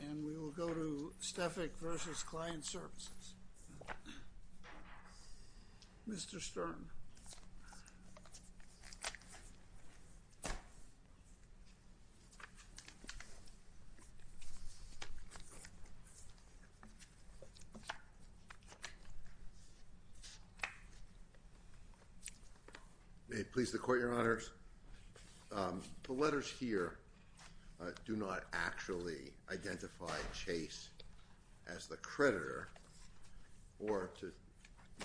And we will go to Steffek v. Client Services. Mr. Stern. May it please the Court, Your Honors. The letters here do not actually identify Chase as the creditor, or to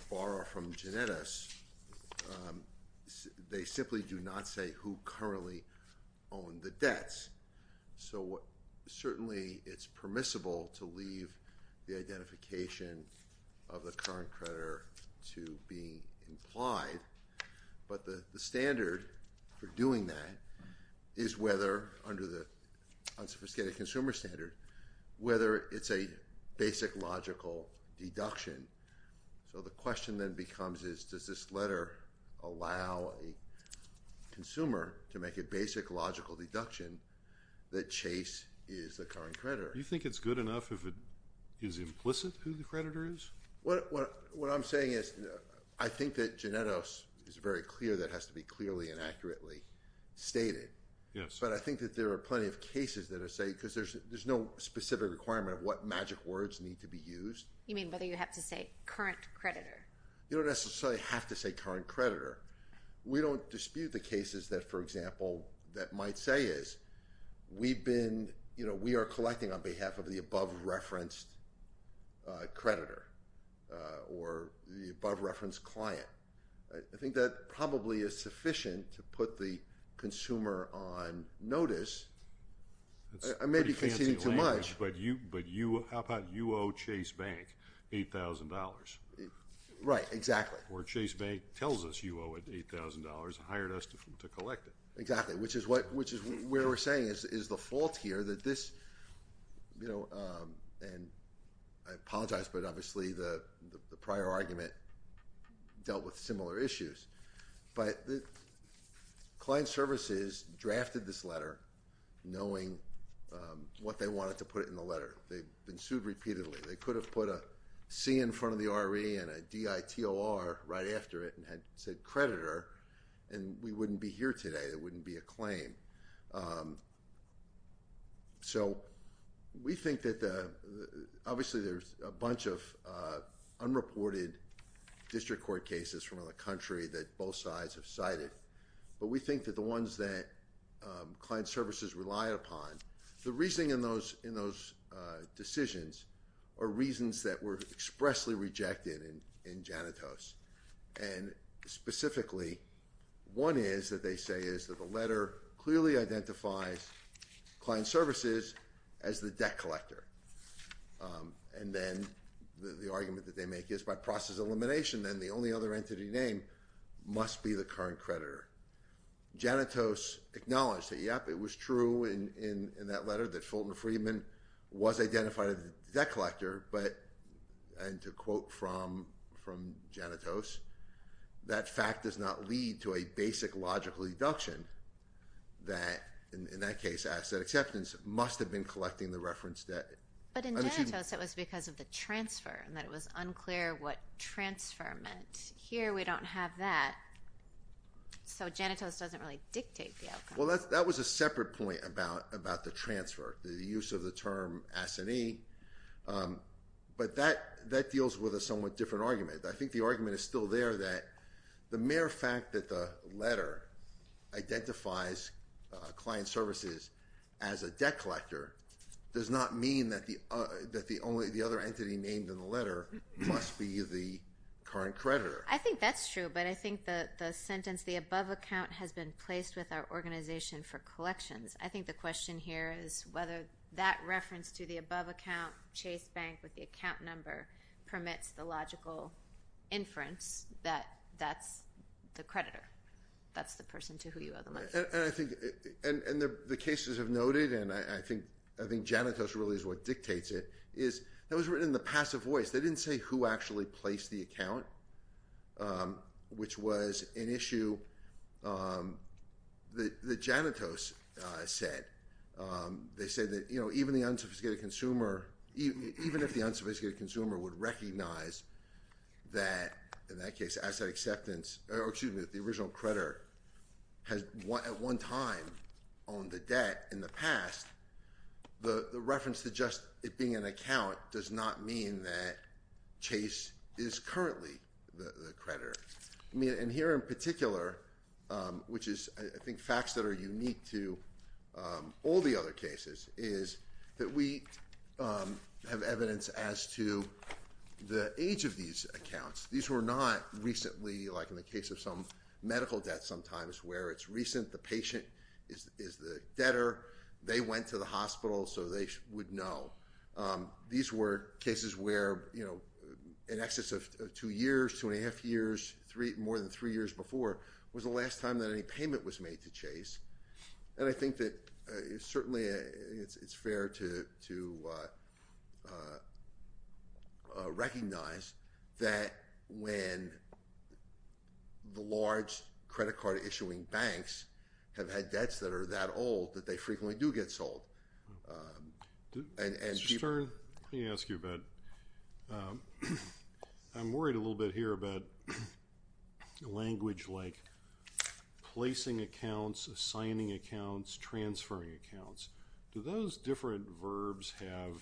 borrow from Genetis, they simply do not say who currently owned the debts. So certainly it's permissible to leave the identification of the current creditor to be implied, but the standard for doing that is whether, under the unsophisticated consumer standard, whether it's a basic logical deduction. So the question then becomes is, does this letter allow a consumer to make a basic logical deduction that Chase is the current creditor? Do you think it's good enough if it is implicit who the creditor is? What I'm saying is, I think that Genetis is very clear that it has to be clearly and accurately stated, but I think that there are plenty of cases that say, because there's no specific requirement of what magic words need to be used. You mean whether you have to say current creditor? You don't necessarily have to say current creditor. We don't dispute the cases that, for example, that might say is, we've been, you know, we are collecting on behalf of the above-referenced creditor, or the above-referenced client. I think that probably is sufficient to put the consumer on notice. That's pretty fancy language, but how about you owe Chase Bank $8,000? Right. Exactly. Or Chase Bank tells us you owe it $8,000 and hired us to collect it. Exactly. Which is what, which is where we're saying is the fault here that this, you know, and I apologize, but obviously the prior argument dealt with similar issues. But client services drafted this letter knowing what they wanted to put in the letter. They've been sued repeatedly. They could have put a C in front of the RE and a DITOR right after it and had said creditor and we wouldn't be here today. It wouldn't be a claim. So we think that the, obviously there's a bunch of unreported district court cases from around the country that both sides have cited, but we think that the ones that client services rely upon, the reasoning in those, in those decisions are reasons that were expressly rejected in, in Janitos. And specifically one is that they say is that the letter clearly identifies client services as the debt collector. And then the argument that they make is by process of elimination, then the only other entity name must be the current creditor. Janitos acknowledged that, yep, it was true in, in, in that letter that Fulton Friedman was identified as the debt collector, but, and to quote from, from Janitos, that fact does not lead to a basic logical deduction that in, in that case asset acceptance must have been collecting the reference debt. But in Janitos it was because of the transfer and that it was unclear what transfer meant. Here we don't have that. So Janitos doesn't really dictate the outcome. Well that's, that was a separate point about, about the transfer, the use of the term S&E. But that, that deals with a somewhat different argument. I think the argument is still there that the mere fact that the letter identifies client services as a debt collector does not mean that the, that the only, the other entity named in the letter must be the current creditor. I think that's true, but I think that the sentence, the above account has been placed with our organization for collections. I think the question here is whether that reference to the above account, Chase Bank with the account number, permits the logical inference that that's the creditor. That's the person to who you owe the money. And, and I think, and, and the, the cases have noted, and I, I think, I think Janitos really is what dictates it, is that was written in the passive voice. They didn't say who actually placed the account, which was an issue that, that Janitos said. They said that, you know, even the unsophisticated consumer, even, even if the unsophisticated consumer would recognize that, in that case, asset acceptance, or excuse me, that the original creditor has at one time owned the debt in the past, the, the reference to just it being an account does not mean that Chase is currently the, the creditor. I mean, and here in particular, which is, I think, facts that are unique to all the other cases is that we have evidence as to the age of these accounts. These were not recently, like in the case of some medical debt sometimes, where it's recent, the patient is, is the debtor. They went to the hospital, so they would know. These were cases where, you know, in excess of two years, two and a half years, three, more than three years before, was the last time that any payment was made to Chase. And I think that it's certainly, it's, it's fair to, to recognize that when the large credit card issuing banks have had debts that are that old, that they frequently do get sold. And, and people. Mr. Stern, let me ask you about, I'm worried a little bit here about language like placing accounts, assigning accounts, transferring accounts. Do those different verbs have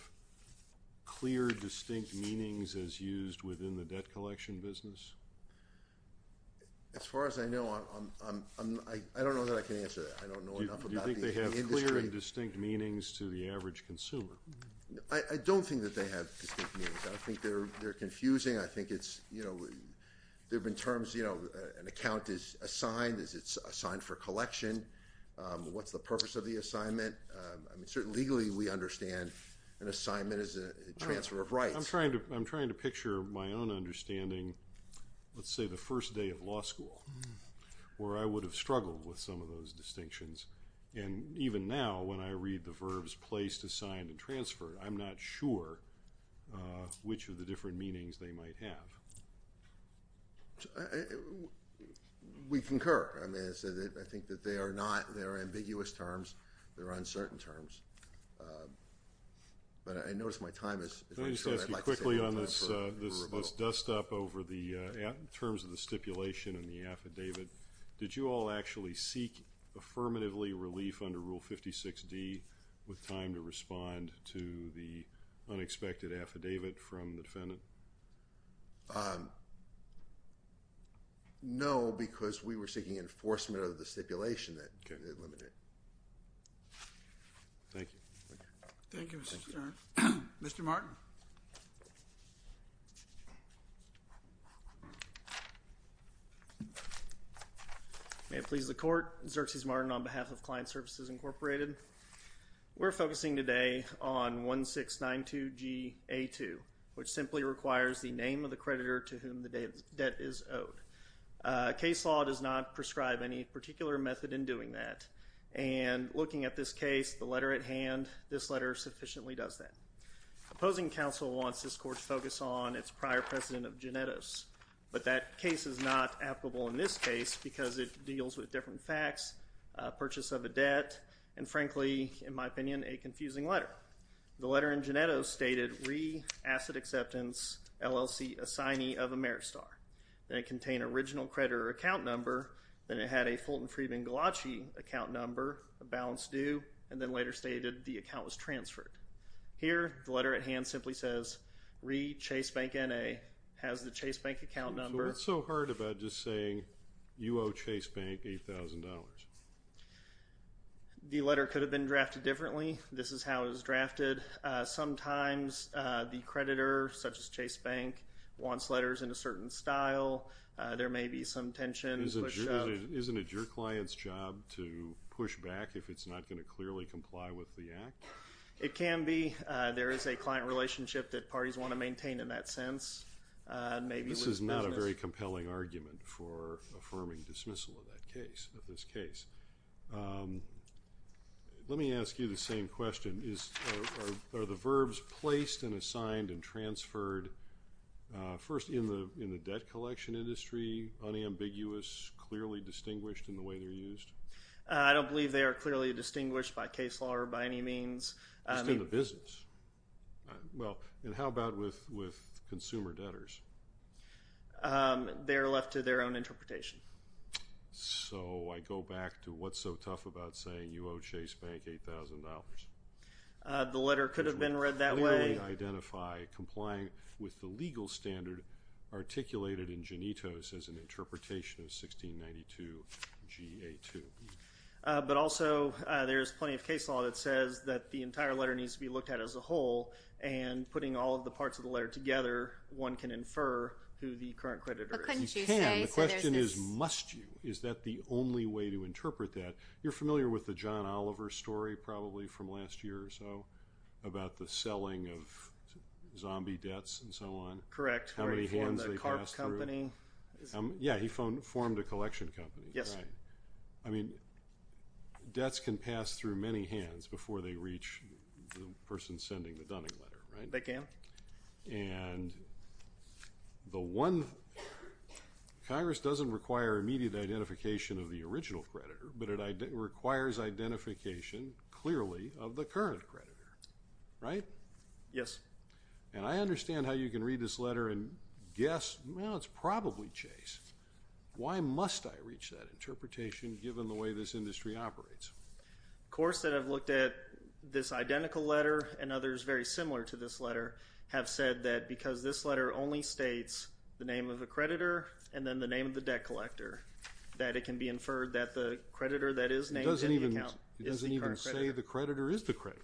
clear, distinct meanings as used within the debt collection business? As far as I know, I'm, I'm, I don't know that I can answer that. I don't know enough about the industry. Do you think they have clear and distinct meanings to the average consumer? I don't think that they have distinct meanings. I think they're, they're confusing. I think it's, you know, there have been terms, you know, an account is assigned as it's assigned for collection. What's the purpose of the assignment? I mean, certainly, legally, we understand an assignment is a transfer of rights. I'm trying to, I'm trying to picture my own understanding, let's say the first day of law school, where I would have struggled with some of those distinctions. And even now, when I read the verbs placed, assigned, and transferred, I'm not sure which of the different meanings they might have. We concur. I mean, I think that they are not, they're ambiguous terms. They're uncertain terms. But I notice my time is running short. I'd like to save my time for a rebuttal. Let me just ask you quickly on this dust up over the terms of the stipulation and the affidavit. Did you all actually seek affirmatively relief under Rule 56D with time to respond to the unexpected affidavit from the defendant? No, because we were seeking enforcement of the stipulation that limited it. Thank you. Thank you, Mr. Chairman. Mr. Martin. May it please the Court. Xerxes Martin on behalf of Client Services, Incorporated. We're focusing today on 1692 GA2, which simply requires the name of the creditor to whom the debt is owed. Case law does not prescribe any particular method in doing that. And looking at this case, the letter at hand, this letter sufficiently does that. Opposing counsel wants this Court to focus on its prior precedent of genetos. But that case is not applicable in this case because it deals with different facts, purchase of a debt, and frankly, in my opinion, a confusing letter. The letter in genetos stated, re, asset acceptance, LLC, assignee of a merit star. Then it contained original creditor account number. Then it had a Fulton Friedman Galachi account number, a balance due, and then later stated the account was transferred. Here, the letter at hand simply says, re, Chase Bank, N.A., has the Chase Bank account number. So what's so hard about just saying you owe Chase Bank $8,000? The letter could have been drafted differently. This is how it was drafted. Sometimes the creditor, such as Chase Bank, wants letters in a certain style. There may be some tension. Isn't it your client's job to push back if it's not going to clearly comply with the Act? It can be. There is a client relationship that parties want to maintain in that sense. This is not a very compelling argument for affirming dismissal of that case, of this case. Let me ask you the same question. Are the verbs placed and assigned and transferred first in the debt collection industry unambiguous, clearly distinguished in the way they're used? I don't believe they are clearly distinguished by case law or by any means. Just in the business? Well, and how about with consumer debtors? They're left to their own interpretation. So I go back to what's so tough about saying you owe Chase Bank $8,000. The letter could have been read that way. Clearly identify complying with the legal standard articulated in Genitos as an interpretation of 1692 GA2. But also there's plenty of case law that says that the entire letter needs to be looked at as a whole, and putting all of the parts of the letter together, one can infer who the current creditor is. You can. The question is, must you? Is that the only way to interpret that? You're familiar with the John Oliver story, probably from last year or so, about the selling of zombie debts and so on? Correct. How many hands they pass through? Yeah, he formed a collection company. Yes. Right. I mean, debts can pass through many hands before they reach the person sending the Dunning letter, right? They can. And the one—Congress doesn't require immediate identification of the original creditor, but it requires identification clearly of the current creditor, right? Yes. And I understand how you can read this letter and guess, well, it's probably Chase. Why must I reach that interpretation given the way this industry operates? Of course, I've looked at this identical letter, and others very similar to this letter, have said that because this letter only states the name of the creditor and then the name of the debt collector, that it can be inferred that the creditor that is named in the account is the current creditor. It doesn't even say the creditor is the creditor.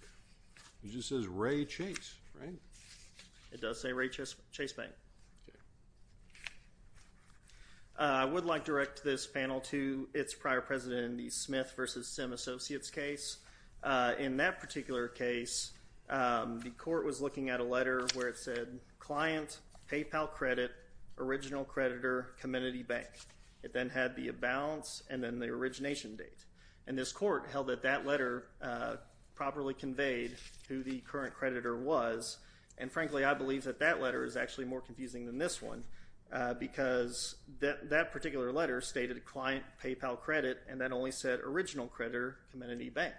It just says Ray Chase, right? It does say Ray Chase Bank. Okay. I would like to direct this panel to its prior president in the Smith v. Sim Associates case. In that particular case, the court was looking at a letter where it said client, PayPal credit, original creditor, Comenity Bank. It then had the balance and then the origination date. And this court held that that letter properly conveyed who the current creditor was, and frankly, I believe that that letter is actually more confusing than this one because that particular letter stated client, PayPal credit, and that only said original creditor, Comenity Bank.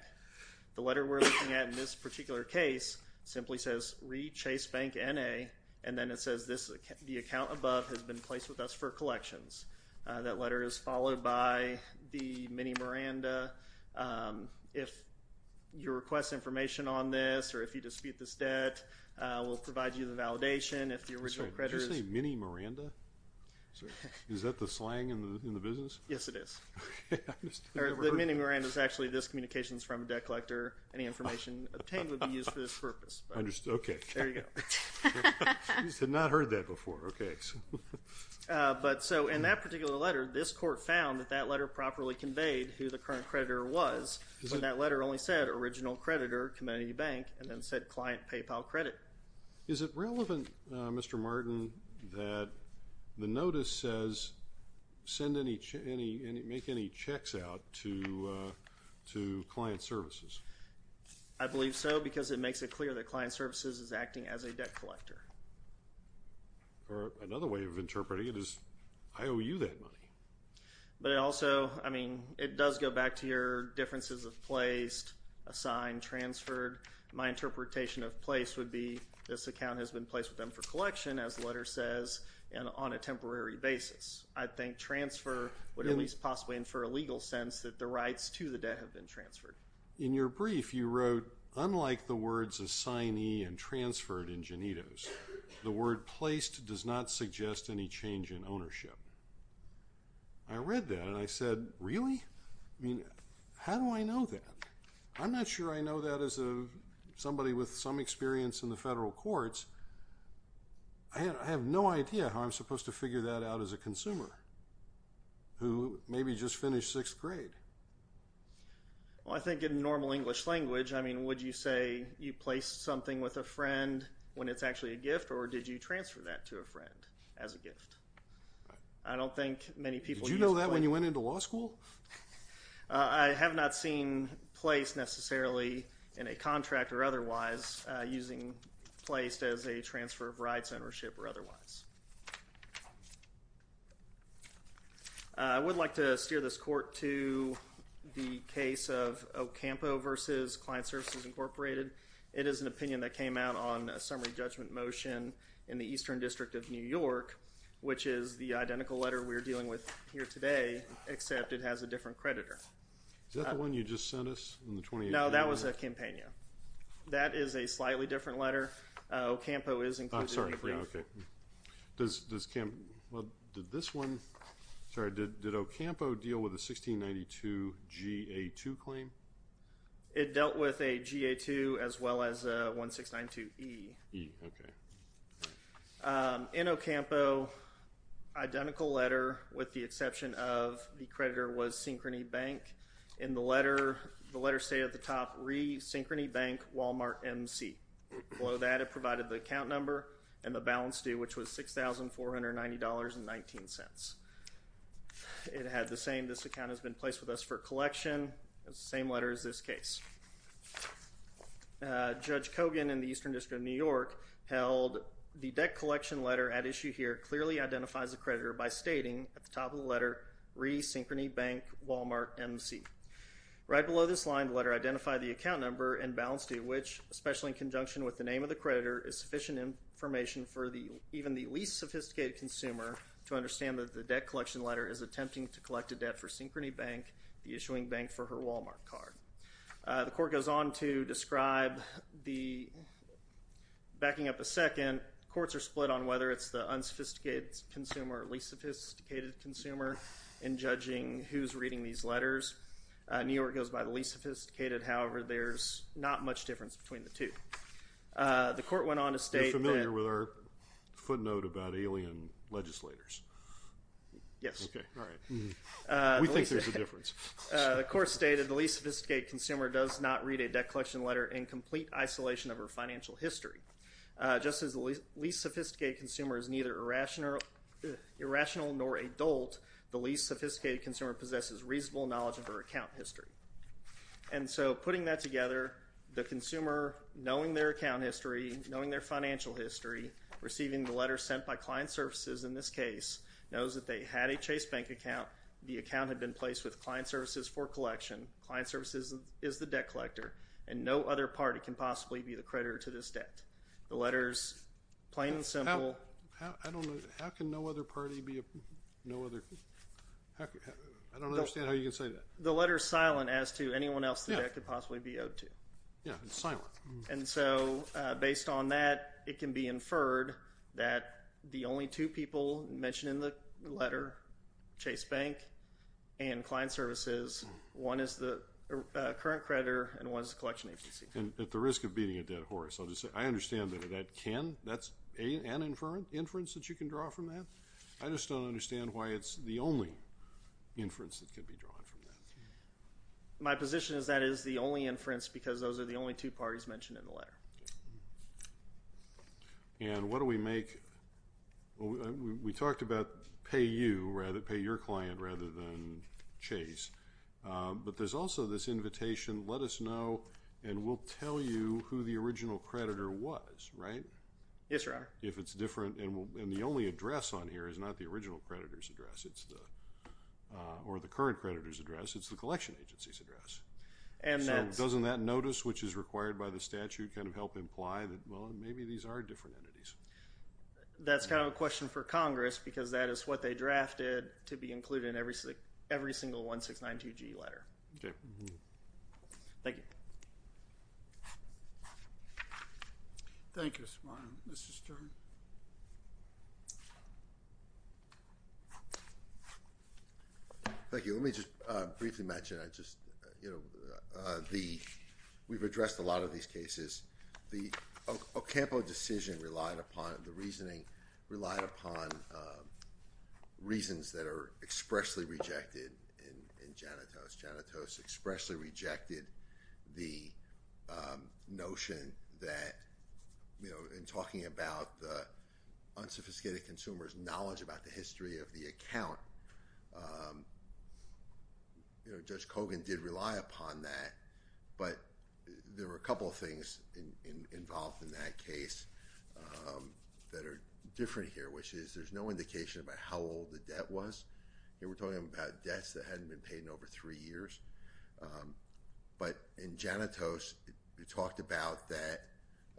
The letter we're looking at in this particular case simply says Ray Chase Bank, N.A., and then it says the account above has been placed with us for collections. That letter is followed by the mini Miranda. If you request information on this or if you dispute this debt, we'll provide you the validation. Did you say mini Miranda? Is that the slang in the business? Yes, it is. The mini Miranda is actually this communications from a debt collector. Any information obtained would be used for this purpose. Okay. There you go. I had not heard that before. In that particular letter, this court found that that letter properly conveyed who the current creditor was, but that letter only said original creditor, Comenity Bank, and then said client, PayPal credit. Is it relevant, Mr. Martin, that the notice says make any checks out to client services? I believe so because it makes it clear that client services is acting as a debt collector. Or another way of interpreting it is I owe you that money. But it also, I mean, it does go back to your differences of placed, assigned, transferred. My interpretation of placed would be this account has been placed with them for collection, as the letter says, and on a temporary basis. I think transfer would at least possibly infer a legal sense that the rights to the debt have been transferred. In your brief, you wrote, unlike the words assignee and transferred in Janitos, the word placed does not suggest any change in ownership. I read that, and I said, really? I mean, how do I know that? I'm not sure I know that as somebody with some experience in the federal courts. I have no idea how I'm supposed to figure that out as a consumer who maybe just finished sixth grade. Well, I think in normal English language, I mean, would you say you placed something with a friend when it's actually a gift, or did you transfer that to a friend as a gift? I don't think many people use placed. Did you know that when you went into law school? I have not seen placed necessarily in a contract or otherwise using placed as a transfer of rights ownership or otherwise. I would like to steer this court to the case of Ocampo versus Client Services Incorporated. It is an opinion that came out on a summary judgment motion in the Eastern District of New York, which is the identical letter we're dealing with here today, except it has a different creditor. Is that the one you just sent us in the 2018? No, that was a Campagna. That is a slightly different letter. Ocampo is included in the brief. Okay. Well, did this one, sorry, did Ocampo deal with a 1692-GA2 claim? It dealt with a GA2 as well as a 1692-E. E, okay. In Ocampo, identical letter with the exception of the creditor was Synchrony Bank. In the letter, the letter stated at the top, Re. Synchrony Bank, Walmart, MC. Below that, it provided the account number and the balance due, which was $6,490.19. It had the same, this account has been placed with us for collection, the same letter as this case. Judge Kogan in the Eastern District of New York held the debt collection letter at issue here clearly identifies the creditor by stating at the top of the letter, Re. Synchrony Bank, Walmart, MC. Right below this line, the letter identified the account number and balance due, which especially in conjunction with the name of the creditor, is sufficient information for even the least sophisticated consumer to understand that the debt collection letter is attempting to collect a debt for Synchrony Bank, the issuing bank for her Walmart card. The court goes on to describe the, backing up a second, courts are split on whether it's the unsophisticated consumer or least sophisticated consumer in judging who's reading these letters. New York goes by the least sophisticated. However, there's not much difference between the two. The court went on to state that. You're familiar with our footnote about alien legislators? Yes. Okay, all right. We think there's a difference. The court stated the least sophisticated consumer does not read a debt collection letter in complete isolation of her financial history. Just as the least sophisticated consumer is neither irrational nor adult, the least sophisticated consumer possesses reasonable knowledge of her account history. And so putting that together, the consumer, knowing their account history, knowing their financial history, receiving the letter sent by client services in this case, knows that they had a Chase Bank account, the account had been placed with client services for collection, client services is the debt collector, and no other party can possibly be the creditor to this debt. The letter's plain and simple. How can no other party be a no other? I don't understand how you can say that. The letter's silent as to anyone else the debt could possibly be owed to. Yeah, it's silent. And so based on that, it can be inferred that the only two people mentioned in the letter, Chase Bank and client services, one is the current creditor and one is the collection agency. And at the risk of beating a dead horse, I understand that that can, that's an inference that you can draw from that. I just don't understand why it's the only inference that can be drawn from that. My position is that is the only inference because those are the only two parties mentioned in the letter. And what do we make? We talked about pay you rather, pay your client rather than Chase. But there's also this invitation, let us know, and we'll tell you who the original creditor was, right? Yes, Your Honor. If it's different, and the only address on here is not the original creditor's address, or the current creditor's address, it's the collection agency's address. So doesn't that notice, which is required by the statute, kind of help imply that, well, maybe these are different entities? That's kind of a question for Congress because that is what they drafted to be included in every single 1692G letter. Okay. Thank you. Thank you, Your Honor. Mr. Stern. Thank you. Let me just briefly mention, I just, you know, we've addressed a lot of these cases. The Ocampo decision relied upon, the reasoning relied upon reasons that are expressly rejected in Janitos. Janitos expressly rejected the notion that, you know, in talking about the unsophisticated consumer's knowledge about the history of the account, you know, Judge Kogan did rely upon that, but there were a couple of things involved in that case that are different here, which is there's no indication about how old the debt was. Here we're talking about debts that hadn't been paid in over three years. But in Janitos, you talked about that,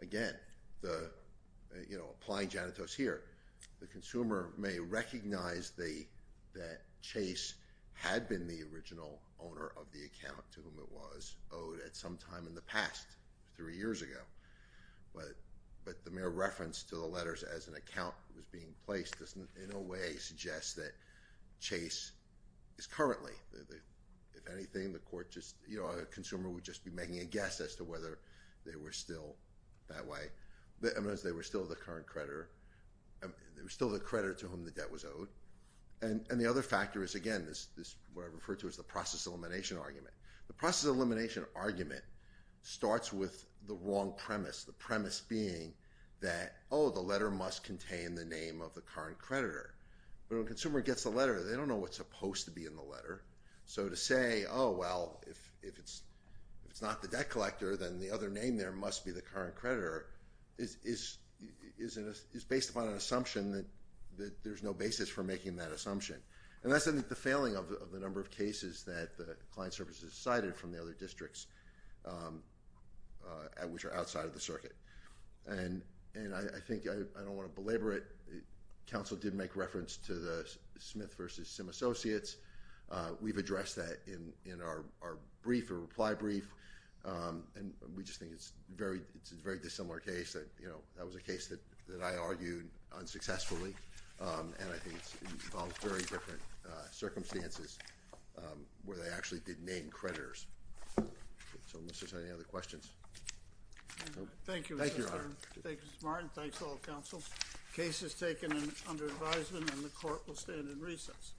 again, the, you know, applying Janitos here, the consumer may recognize the, that Chase had been the original owner of the account to whom it was owed at some time in the past, three years ago. But the mere reference to the letters as an account was being placed in a way suggests that Chase is currently, if anything, the court just, you know, a consumer would just be making a guess as to whether they were still that way, as they were still the current creditor, they were still the creditor to whom the debt was owed. And the other factor is, again, what I refer to as the process elimination argument. The process elimination argument starts with the wrong premise, the premise being that, oh, the letter must contain the name of the current creditor. But when a consumer gets the letter, they don't know what's supposed to be in the letter. So to say, oh, well, if it's not the debt collector, then the other name there must be the current creditor, is based upon an assumption that there's no basis for making that assumption. And that's, I think, the failing of the number of cases that the client services cited from the other districts, which are outside of the circuit. And I think I don't want to belabor it. Counsel did make reference to the Smith v. Sim Associates. We've addressed that in our brief, our reply brief. And we just think it's a very dissimilar case. That was a case that I argued unsuccessfully. And I think it involves very different circumstances where they actually did name creditors. So Mr. Senator, any other questions? Thank you, Mr. Chairman. Thank you, Mr. Martin. Thanks to all the counsels. Case is taken under advisement, and the court will stand in recess.